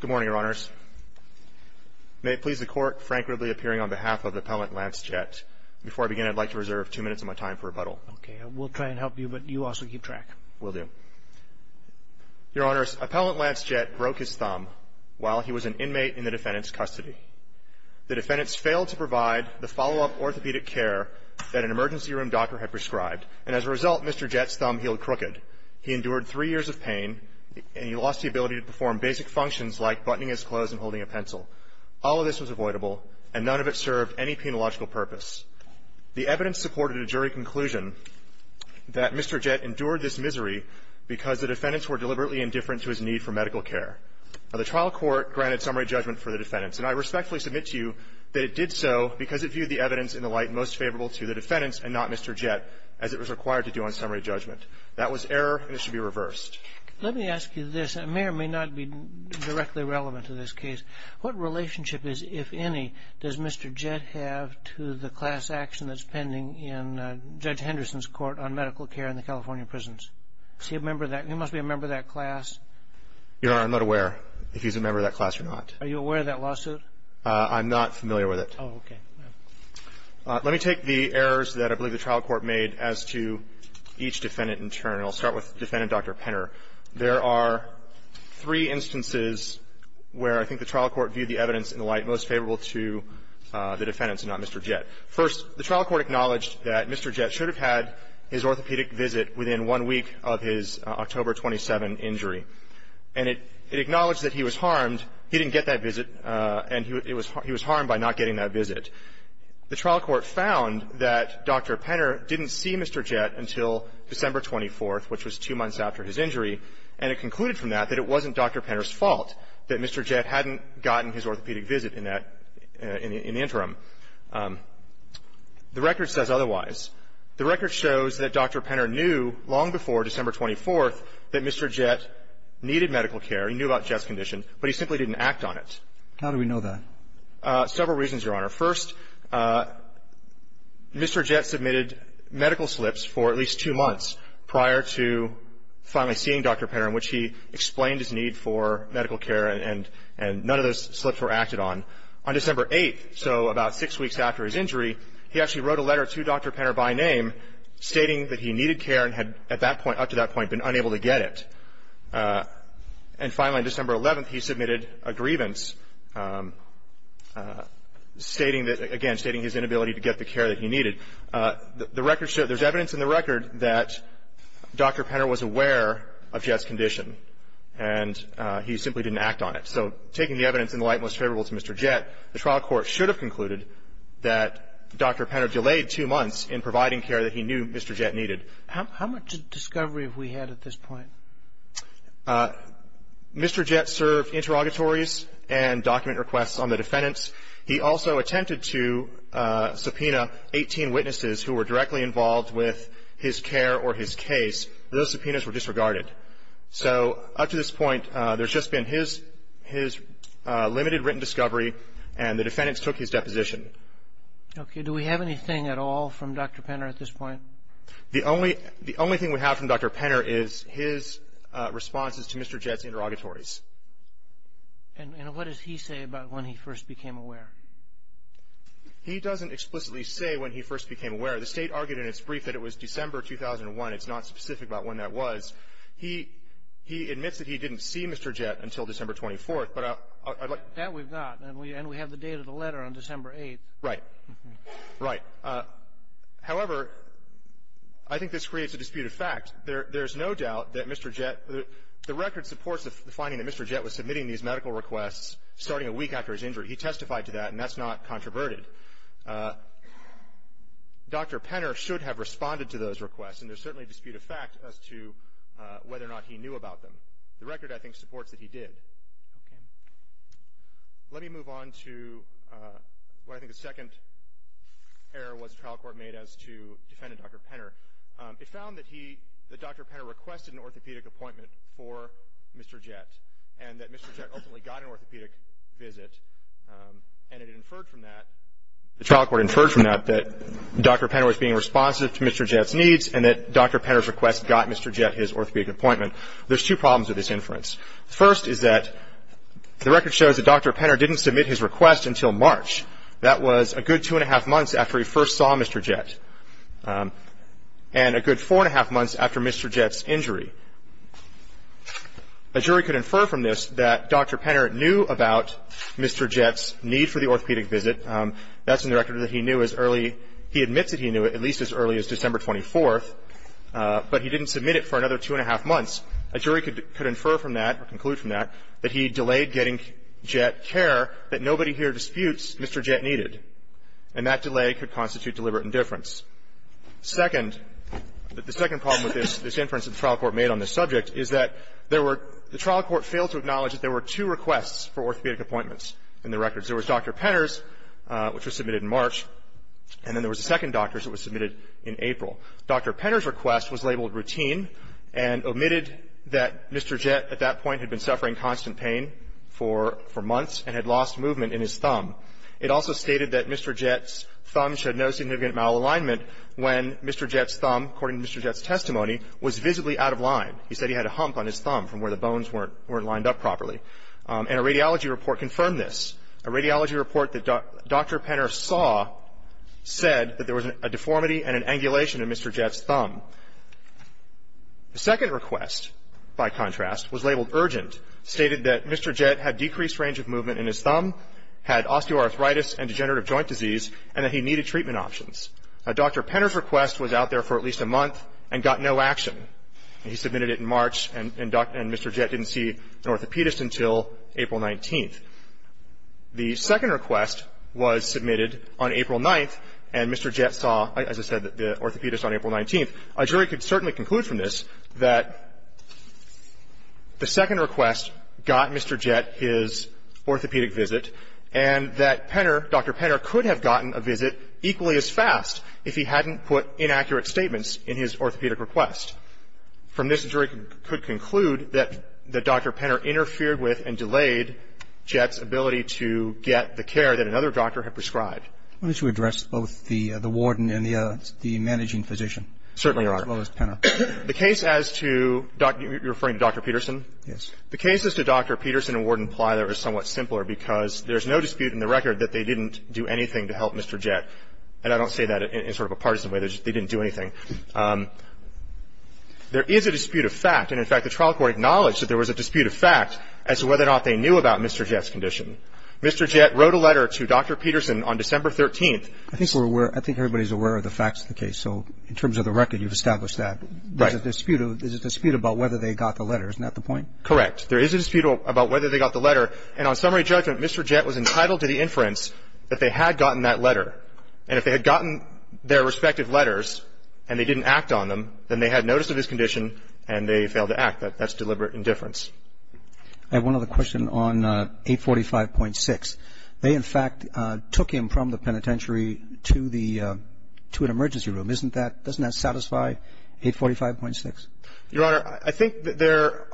Good morning, Your Honors. May it please the Court, frankly appearing on behalf of Appellant Lance Jett, before I begin, I'd like to reserve two minutes of my time for rebuttal. Okay. We'll try and help you, but you also keep track. Will do. Your Honors, Appellant Lance Jett broke his thumb while he was an inmate in the defendant's custody. The defendant's failed to provide the follow-up orthopedic care that an emergency room doctor had prescribed, and as a result, Mr. Jett's thumb healed crooked. He endured three years of pain, and he lost the ability to perform basic functions like buttoning his clothes and holding a pencil. All of this was avoidable, and none of it served any penological purpose. The evidence supported a jury conclusion that Mr. Jett endured this misery because the defendants were deliberately indifferent to his need for medical care. Now, the trial court granted summary judgment for the defendants, and I respectfully submit to you that it did so because it viewed the evidence in the light most favorable to the defendants and not Mr. Jett, as it was required to do on summary judgment. That was error, and it should be reversed. Let me ask you this, and it may or may not be directly relevant to this case. What relationship is, if any, does Mr. Jett have to the class action that's pending in Judge Henderson's court on medical care in the California prisons? Is he a member of that? He must be a member of that class. Your Honor, I'm not aware if he's a member of that class or not. Are you aware of that lawsuit? I'm not familiar with it. Oh, okay. Let me take the errors that I believe the trial court made as to each defendant in turn, and I'll start with Defendant Dr. Penner. There are three instances where I think the trial court viewed the evidence in the light most favorable to the defendants and not Mr. Jett. First, the trial court acknowledged that Mr. Jett should have had his orthopedic visit within one week of his October 27 injury. And it acknowledged that he was harmed. He didn't get that visit, and he was harmed by not getting that visit. The trial court found that Dr. Penner didn't see Mr. Jett until December 24th, which was two months after his injury, and it concluded from that that it wasn't Dr. Penner's fault that Mr. Jett hadn't gotten his orthopedic visit in that interim. The record says otherwise. The record shows that Dr. Penner knew long before December 24th that Mr. Jett needed medical care. He knew about Jett's condition, but he simply didn't act on it. How do we know that? Several reasons, Your Honor. First, Mr. Jett submitted medical slips for at least two months prior to finally seeing Dr. Penner in which he explained his need for medical care, and none of those slips were acted on. On December 8th, so about six weeks after his injury, he actually wrote a letter to Dr. Penner by name stating that he needed care and had at that point, up to that point, been unable to get it. And finally, on December 11th, he submitted a grievance stating that, again, stating his inability to get the care that he needed. There's evidence in the record that Dr. Penner was aware of Jett's condition, and he simply didn't act on it. So taking the evidence in the light most favorable to Mr. Jett, the trial court should have concluded that Dr. Penner delayed two months in providing care that he knew Mr. Jett needed. How much discovery have we had at this point? Mr. Jett served interrogatories and document requests on the defendants. He also attempted to subpoena 18 witnesses who were directly involved with his care or his case. Those subpoenas were disregarded. So up to this point, there's just been his limited written discovery, and the defendants took his deposition. Okay. Do we have anything at all from Dr. Penner at this point? The only thing we have from Dr. Penner is his responses to Mr. Jett's interrogatories. And what does he say about when he first became aware? He doesn't explicitly say when he first became aware. The State argued in its brief that it was December 2001. It's not specific about when that was. He admits that he didn't see Mr. Jett until December 24th. That we've got, and we have the date of the letter on December 8th. Right. Right. However, I think this creates a dispute of fact. There's no doubt that Mr. Jett, the record supports the finding that Mr. Jett was submitting these medical requests starting a week after his injury. He testified to that, and that's not controverted. Dr. Penner should have responded to those requests, and there's certainly a dispute of fact as to whether or not he knew about them. The record, I think, supports that he did. Okay. Let me move on to what I think the second error was the trial court made as to defendant Dr. Penner. It found that Dr. Penner requested an orthopedic appointment for Mr. Jett, and that Mr. Jett ultimately got an orthopedic visit. And it inferred from that, the trial court inferred from that, that Dr. Penner was being responsive to Mr. Jett's needs, and that Dr. Penner's request got Mr. Jett his orthopedic appointment. There's two problems with this inference. The first is that the record shows that Dr. Penner didn't submit his request until March. That was a good two and a half months after he first saw Mr. Jett, and a good four and a half months after Mr. Jett's injury. A jury could infer from this that Dr. Penner knew about Mr. Jett's need for the orthopedic visit. That's in the record that he knew as early, he admits that he knew it, at least as early as December 24th, but he didn't submit it for another two and a half months. A jury could infer from that, or conclude from that, that he delayed getting Jett care that nobody here disputes Mr. Jett needed. And that delay could constitute deliberate indifference. Second, the second problem with this inference that the trial court made on this subject is that there were, the trial court failed to acknowledge that there were two requests for orthopedic appointments in the records. There was Dr. Penner's, which was submitted in March, and then there was a second doctor's that was submitted in April. Dr. Penner's request was labeled routine and omitted that Mr. Jett at that point had been suffering constant pain for months and had lost movement in his thumb. It also stated that Mr. Jett's thumb showed no significant malalignment when Mr. Jett's thumb, according to Mr. Jett's testimony, was visibly out of line. He said he had a hump on his thumb from where the bones weren't lined up properly. And a radiology report confirmed this. A radiology report that Dr. Penner saw said that there was a deformity and an angulation in Mr. Jett's thumb. The second request, by contrast, was labeled urgent, stated that Mr. Jett had decreased range of movement in his thumb, had osteoarthritis and degenerative joint disease, and that he needed treatment options. Dr. Penner's request was out there for at least a month and got no action. He submitted it in March and Dr. and Mr. Jett didn't see an orthopedist until April 19th. The second request was submitted on April 9th, and Mr. Jett saw, as I said, the orthopedist on April 19th. A jury could certainly conclude from this that the second request got Mr. Jett his orthopedic visit and that Penner, Dr. Penner, could have gotten a visit equally as fast if he hadn't put inaccurate statements in his orthopedic request. From this, a jury could conclude that Dr. Penner interfered with and delayed Jett's ability to get the care that another doctor had prescribed. Why don't you address both the warden and the managing physician? Certainly, Your Honor. As well as Penner. The case as to, you're referring to Dr. Peterson? Yes. The cases to Dr. Peterson and Warden Plyler are somewhat simpler because there's no dispute in the record that they didn't do anything to help Mr. Jett. And I don't say that in sort of a partisan way. They didn't do anything. There is a dispute of fact. And, in fact, the trial court acknowledged that there was a dispute of fact as to whether or not they knew about Mr. Jett's condition. Mr. Jett wrote a letter to Dr. Peterson on December 13th. I think we're aware. I think everybody's aware of the facts of the case. So in terms of the record, you've established that. Right. There's a dispute. There's a dispute about whether they got the letter. Isn't that the point? Correct. There is a dispute about whether they got the letter. And on summary judgment, Mr. Jett was entitled to the inference that they had gotten that letter. And if they had gotten their respective letters and they didn't act on them, then they had notice of his condition and they failed to act. That's deliberate indifference. I have one other question on 845.6. They, in fact, took him from the penitentiary to an emergency room. Doesn't that satisfy 845.6? Your Honor, I think there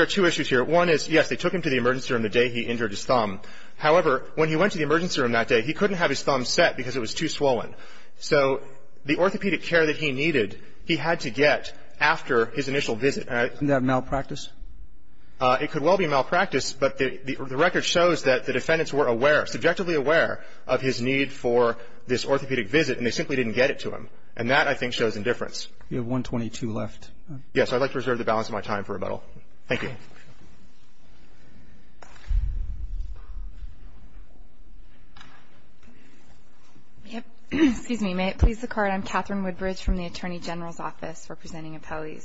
are two issues here. One is, yes, they took him to the emergency room the day he injured his thumb. However, when he went to the emergency room that day, he couldn't have his thumb set because it was too swollen. So the orthopedic care that he needed, he had to get after his initial visit. Isn't that malpractice? It could well be malpractice. But the record shows that the defendants were aware, subjectively aware, of his need for this orthopedic visit and they simply didn't get it to him. And that, I think, shows indifference. You have 1.22 left. Yes. I'd like to reserve the balance of my time for rebuttal. Thank you. Excuse me. May it please the Court. I'm Catherine Woodbridge from the Attorney General's Office representing appellees.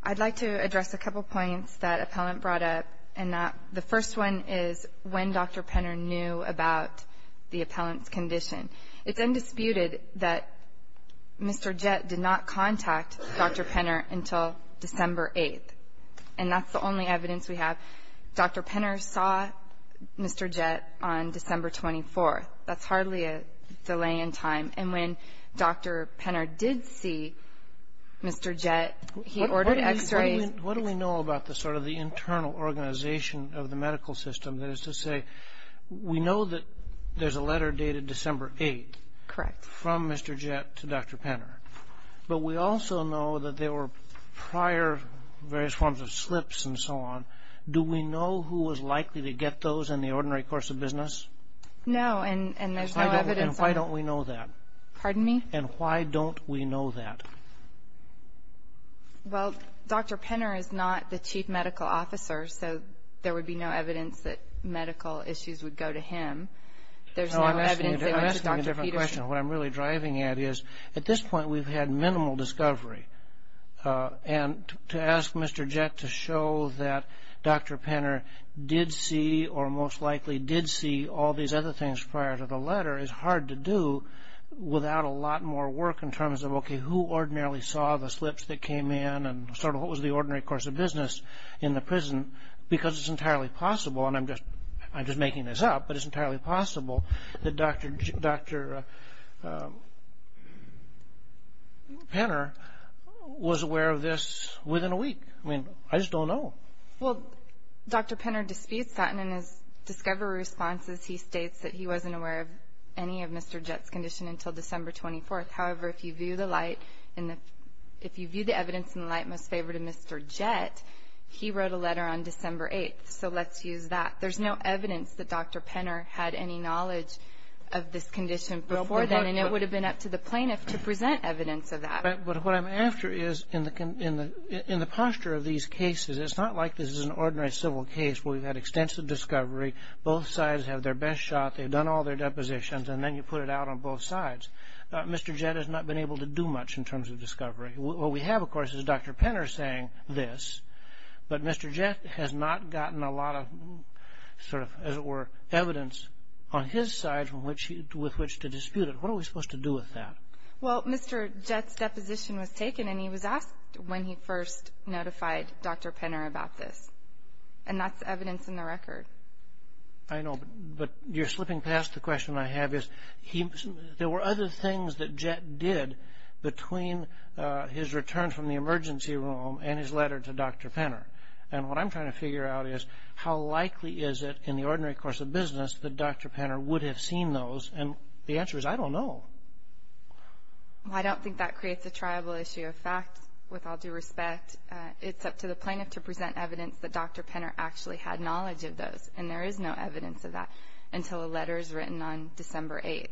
I'd like to address a couple points that Appellant brought up. And the first one is when Dr. Penner knew about the appellant's condition. It's undisputed that Mr. Jett did not contact Dr. Penner until December 8th. And that's the only evidence we have. Dr. Penner saw Mr. Jett on December 24th. That's hardly a delay in time. And when Dr. Penner did see Mr. Jett, he ordered x-rays. What do we know about sort of the internal organization of the medical system? That is to say, we know that there's a letter dated December 8th. Correct. From Mr. Jett to Dr. Penner. But we also know that there were prior various forms of slips and so on. Do we know who was likely to get those in the ordinary course of business? No. And there's no evidence. And why don't we know that? Pardon me? And why don't we know that? Well, Dr. Penner is not the chief medical officer, so there would be no evidence that medical issues would go to him. There's no evidence they went to Dr. Peterson. I'm asking a different question. What I'm really driving at is, at this point, we've had minimal discovery. And to ask Mr. Jett to show that Dr. Penner did see, or most likely did see, all these other things prior to the letter is hard to do without a lot more work in terms of, okay, who ordinarily saw the slips that came in and sort of what was the ordinary course of business in the prison? Because it's entirely possible, and I'm just making this up, but it's entirely possible that Dr. Penner was aware of this within a week. I mean, I just don't know. Well, Dr. Penner disputes that, and in his discovery responses, he states that he wasn't aware of any of Mr. Jett's condition until December 24th. However, if you view the light, if you view the evidence in the light most favored of Mr. Jett, he wrote a letter on December 8th, so let's use that. There's no evidence that Dr. Penner had any knowledge of this condition before then, and it would have been up to the plaintiff to present evidence of that. But what I'm after is, in the posture of these cases, it's not like this is an ordinary civil case where we've had extensive discovery, both sides have their best shot, they've done all their depositions, and then you put it out on both sides. Mr. Jett has not been able to do much in terms of discovery. What we have, of course, is Dr. Penner saying this, but Mr. Jett has not gotten a lot of sort of, as it were, evidence on his side with which to dispute it. What are we supposed to do with that? Well, Mr. Jett's deposition was taken and he was asked when he first notified Dr. Penner about this, and that's evidence in the record. I know, but you're slipping past the question I have is, there were other things that Jett did between his return from the emergency room and his letter to Dr. Penner, and what I'm trying to figure out is how likely is it in the ordinary course of business that Dr. Penner would have seen those, and the answer is I don't know. Well, I don't think that creates a triable issue of fact, with all due respect. It's up to the plaintiff to present evidence that Dr. Penner actually had knowledge of those, and there is no evidence of that until a letter is written on December 8th.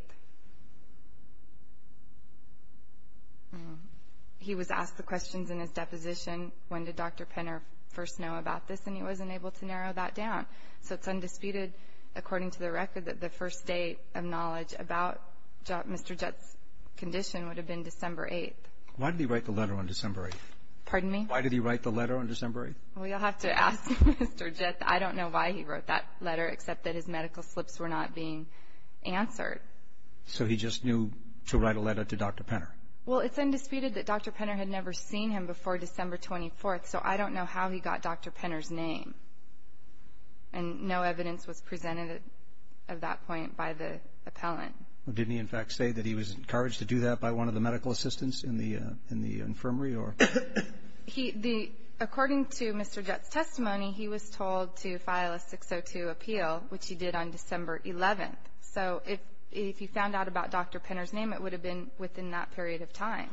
He was asked the questions in his deposition, when did Dr. Penner first know about this, and he wasn't able to narrow that down. So it's undisputed, according to the record, that the first date of knowledge about Mr. Jett's condition would have been December 8th. Why did he write the letter on December 8th? Pardon me? Why did he write the letter on December 8th? Well, you'll have to ask Mr. Jett. I don't know why he wrote that letter except that his medical slips were not being answered. So he just knew to write a letter to Dr. Penner? Well, it's undisputed that Dr. Penner had never seen him before December 24th, so I don't know how he got Dr. Penner's name. And no evidence was presented at that point by the appellant. Didn't he, in fact, say that he was encouraged to do that by one of the medical assistants in the infirmary? According to Mr. Jett's testimony, he was told to file a 602 appeal, which he did on December 11th. So if he found out about Dr. Penner's name, it would have been within that period of time.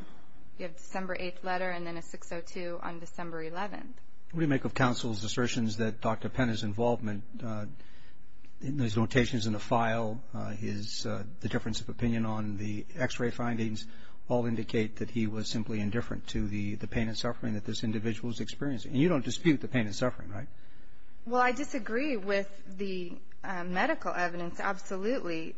You have a December 8th letter and then a 602 on December 11th. What do you make of counsel's assertions that Dr. Penner's involvement, his notations in the file, the difference of opinion on the X-ray findings, all indicate that he was simply indifferent to the pain and suffering that this individual is experiencing? And you don't dispute the pain and suffering, right? Well, I disagree with the medical evidence, absolutely.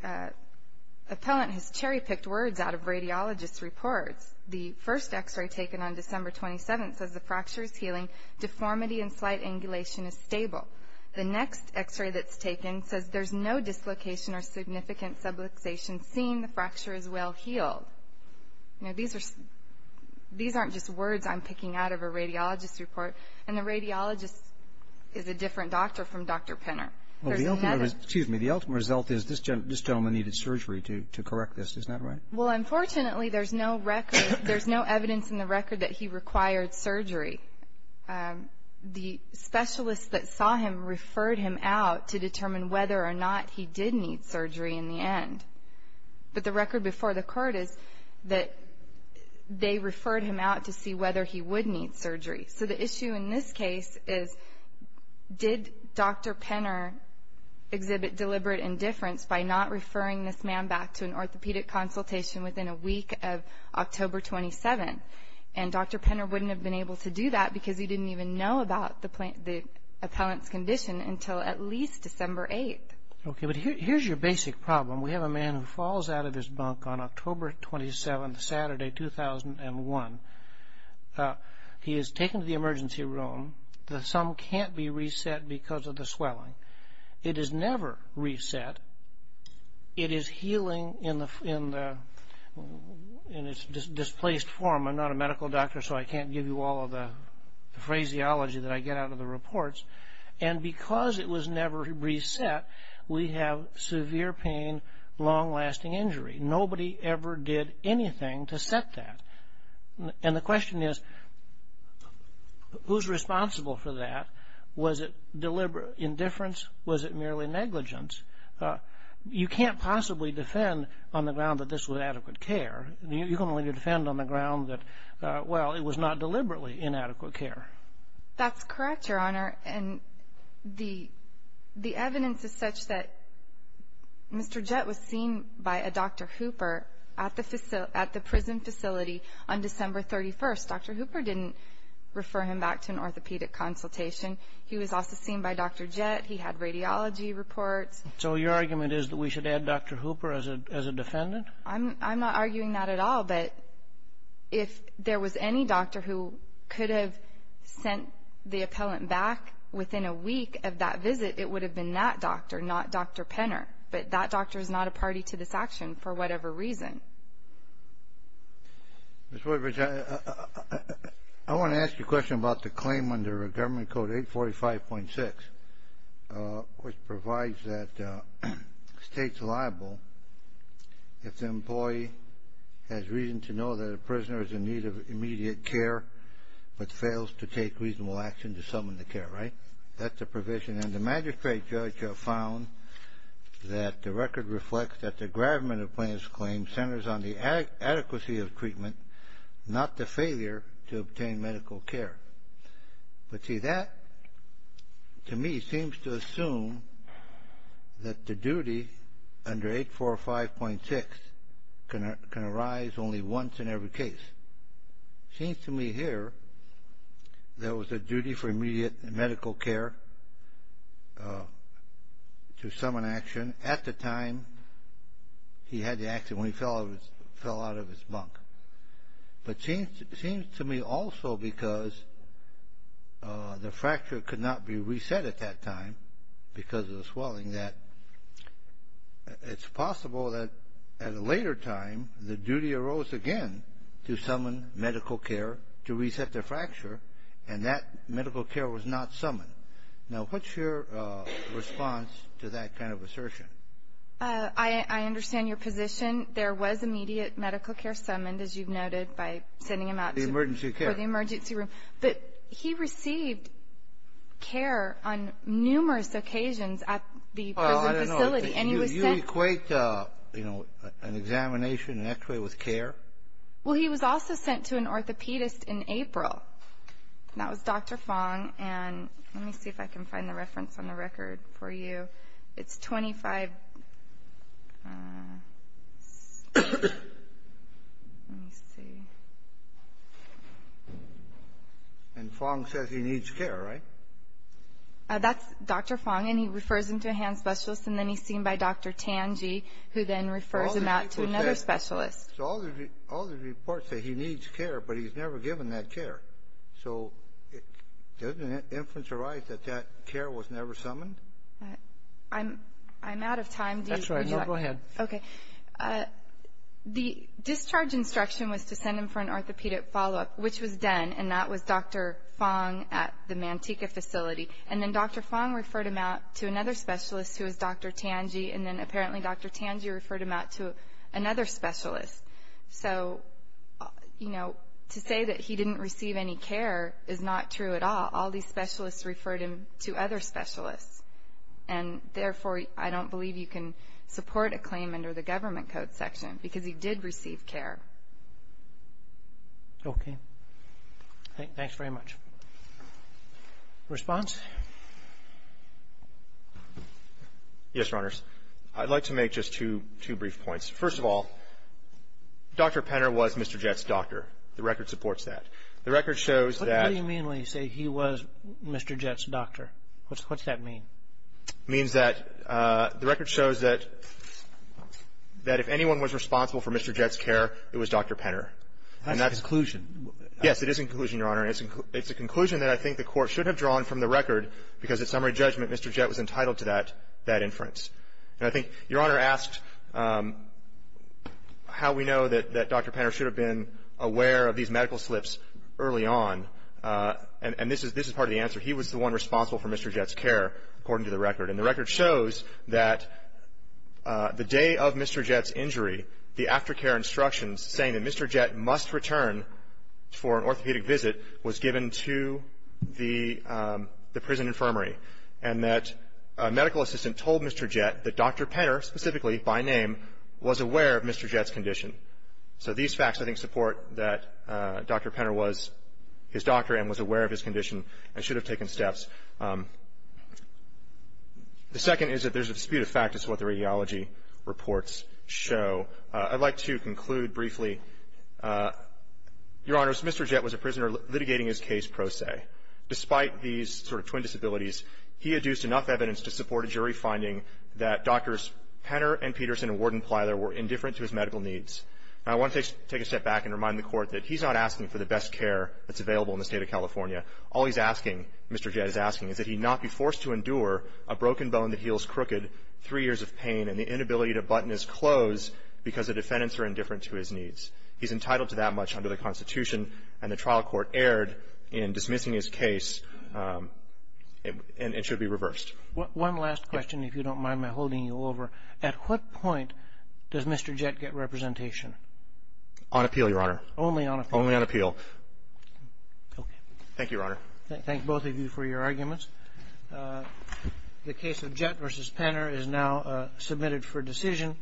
Appellant has cherry-picked words out of radiologists' reports. The first X-ray taken on December 27th says the fracture is healing. Deformity and slight angulation is stable. The next X-ray that's taken says there's no dislocation or significant subluxation seen. The fracture is well healed. Now, these aren't just words I'm picking out of a radiologist's report. And the radiologist is a different doctor from Dr. Penner. Well, the ultimate result is this gentleman needed surgery to correct this. Isn't that right? Well, unfortunately, there's no record, there's no evidence in the record that he required surgery. The specialists that saw him referred him out to determine whether or not he did need surgery in the end. But the record before the court is that they referred him out to see whether he would need surgery. So the issue in this case is did Dr. Penner exhibit deliberate indifference by not referring this man back to an orthopedic consultation within a week of October 27th? And Dr. Penner wouldn't have been able to do that because he didn't even know about the appellant's condition until at least December 8th. Okay, but here's your basic problem. We have a man who falls out of his bunk on October 27th, Saturday, 2001. He is taken to the emergency room. The sum can't be reset because of the swelling. It is never reset. It is healing in its displaced form. I'm not a medical doctor, so I can't give you all of the phraseology that I get out of the reports. And because it was never reset, we have severe pain, long-lasting injury. Nobody ever did anything to set that. And the question is, who's responsible for that? Was it deliberate indifference? Was it merely negligence? You can't possibly defend on the ground that this was adequate care. You can only defend on the ground that, well, it was not deliberately inadequate care. That's correct, Your Honor, and the evidence is such that Mr. Jett was seen by a Dr. Hooper at the prison facility on December 31st. Dr. Hooper didn't refer him back to an orthopedic consultation. He was also seen by Dr. Jett. He had radiology reports. So your argument is that we should add Dr. Hooper as a defendant? I'm not arguing that at all, but if there was any doctor who could have sent the appellant back within a week of that visit, it would have been that doctor, not Dr. Penner. But that doctor is not a party to this action for whatever reason. Ms. Woodbridge, I want to ask you a question about the claim under Government Code 845.6, which provides that states liable if the employee has reason to know that a prisoner is in need of immediate care but fails to take reasonable action to summon the care, right? That's the provision. And the magistrate judge found that the record reflects that the gravamen of the plaintiff's claim centers on the adequacy of treatment, not the failure to obtain medical care. But see, that to me seems to assume that the duty under 845.6 can arise only once in every case. It seems to me here there was a duty for immediate medical care to summon action at the time he had the action when he fell out of his bunk. But it seems to me also because the fracture could not be reset at that time because of the swelling that it's possible that at a later time the duty arose again to summon medical care to reset the fracture, and that medical care was not summoned. Now, what's your response to that kind of assertion? I understand your position. There was immediate medical care summoned, as you've noted, by sending him out to the emergency room. But he received care on numerous occasions at the prison facility. Well, I don't know. You equate, you know, an examination, an x-ray with care? Well, he was also sent to an orthopedist in April. That was Dr. Fong. And let me see if I can find the reference on the record for you. It's 25. Let me see. And Fong says he needs care, right? That's Dr. Fong, and he refers him to a hand specialist, and then he's seen by Dr. Tangi, who then refers him out to another specialist. So all the reports say he needs care, but he's never given that care. So doesn't it inference arise that that care was never summoned? I'm out of time. That's all right. No, go ahead. Okay. The discharge instruction was to send him for an orthopedic follow-up, which was done, and that was Dr. Fong at the Manteca facility. And then Dr. Fong referred him out to another specialist, who was Dr. Tangi, and then apparently Dr. Tangi referred him out to another specialist. So, you know, to say that he didn't receive any care is not true at all. All these specialists referred him to other specialists, and therefore, I don't believe you can support a claim under the Government Code section, because he did receive care. Okay. Thanks very much. Response? Yes, Your Honors. I'd like to make just two brief points. First of all, Dr. Penner was Mr. Jett's doctor. The record supports that. The record shows that ---- What do you mean when you say he was Mr. Jett's doctor? What does that mean? It means that the record shows that if anyone was responsible for Mr. Jett's care, it was Dr. Penner. That's a conclusion. Yes, it is a conclusion, Your Honor. It's a conclusion that I think the Court should have drawn from the record, because at summary judgment, Mr. Jett was entitled to that inference. And I think Your Honor asked how we know that Dr. Penner should have been aware of these medical slips early on, and this is part of the answer. He was the one responsible for Mr. Jett's care, according to the record. And the record shows that the day of Mr. Jett's injury, the aftercare instructions saying that Mr. Jett must return for an orthopedic visit was given to the prison infirmary, and that a medical assistant told Mr. Jett that Dr. Penner specifically by name was aware of Mr. Jett's condition. So these facts I think support that Dr. Penner was his doctor and was aware of his condition and should have taken steps. The second is that there's a dispute of fact is what the radiology reports show. I'd like to conclude briefly. Your Honors, Mr. Jett was a prisoner litigating his case pro se. Despite these sort of twin disabilities, he adduced enough evidence to support a jury finding that Drs. Penner and Peterson and Warden Plyler were indifferent to his medical needs. Now, I want to take a step back and remind the Court that he's not asking for the best care that's available in the State of California. All he's asking, Mr. Jett is asking, is that he not be forced to endure a broken bone that heals crooked, three years of pain, and the inability to button his clothes because the defendants are indifferent to his needs. He's entitled to that much under the Constitution, and the trial court erred in dismissing his case and it should be reversed. One last question, if you don't mind my holding you over. At what point does Mr. Jett get representation? On appeal, Your Honor. Only on appeal? Only on appeal. Thank you, Your Honor. Thank both of you for your arguments. The case of Jett v. Penner is now submitted for decision.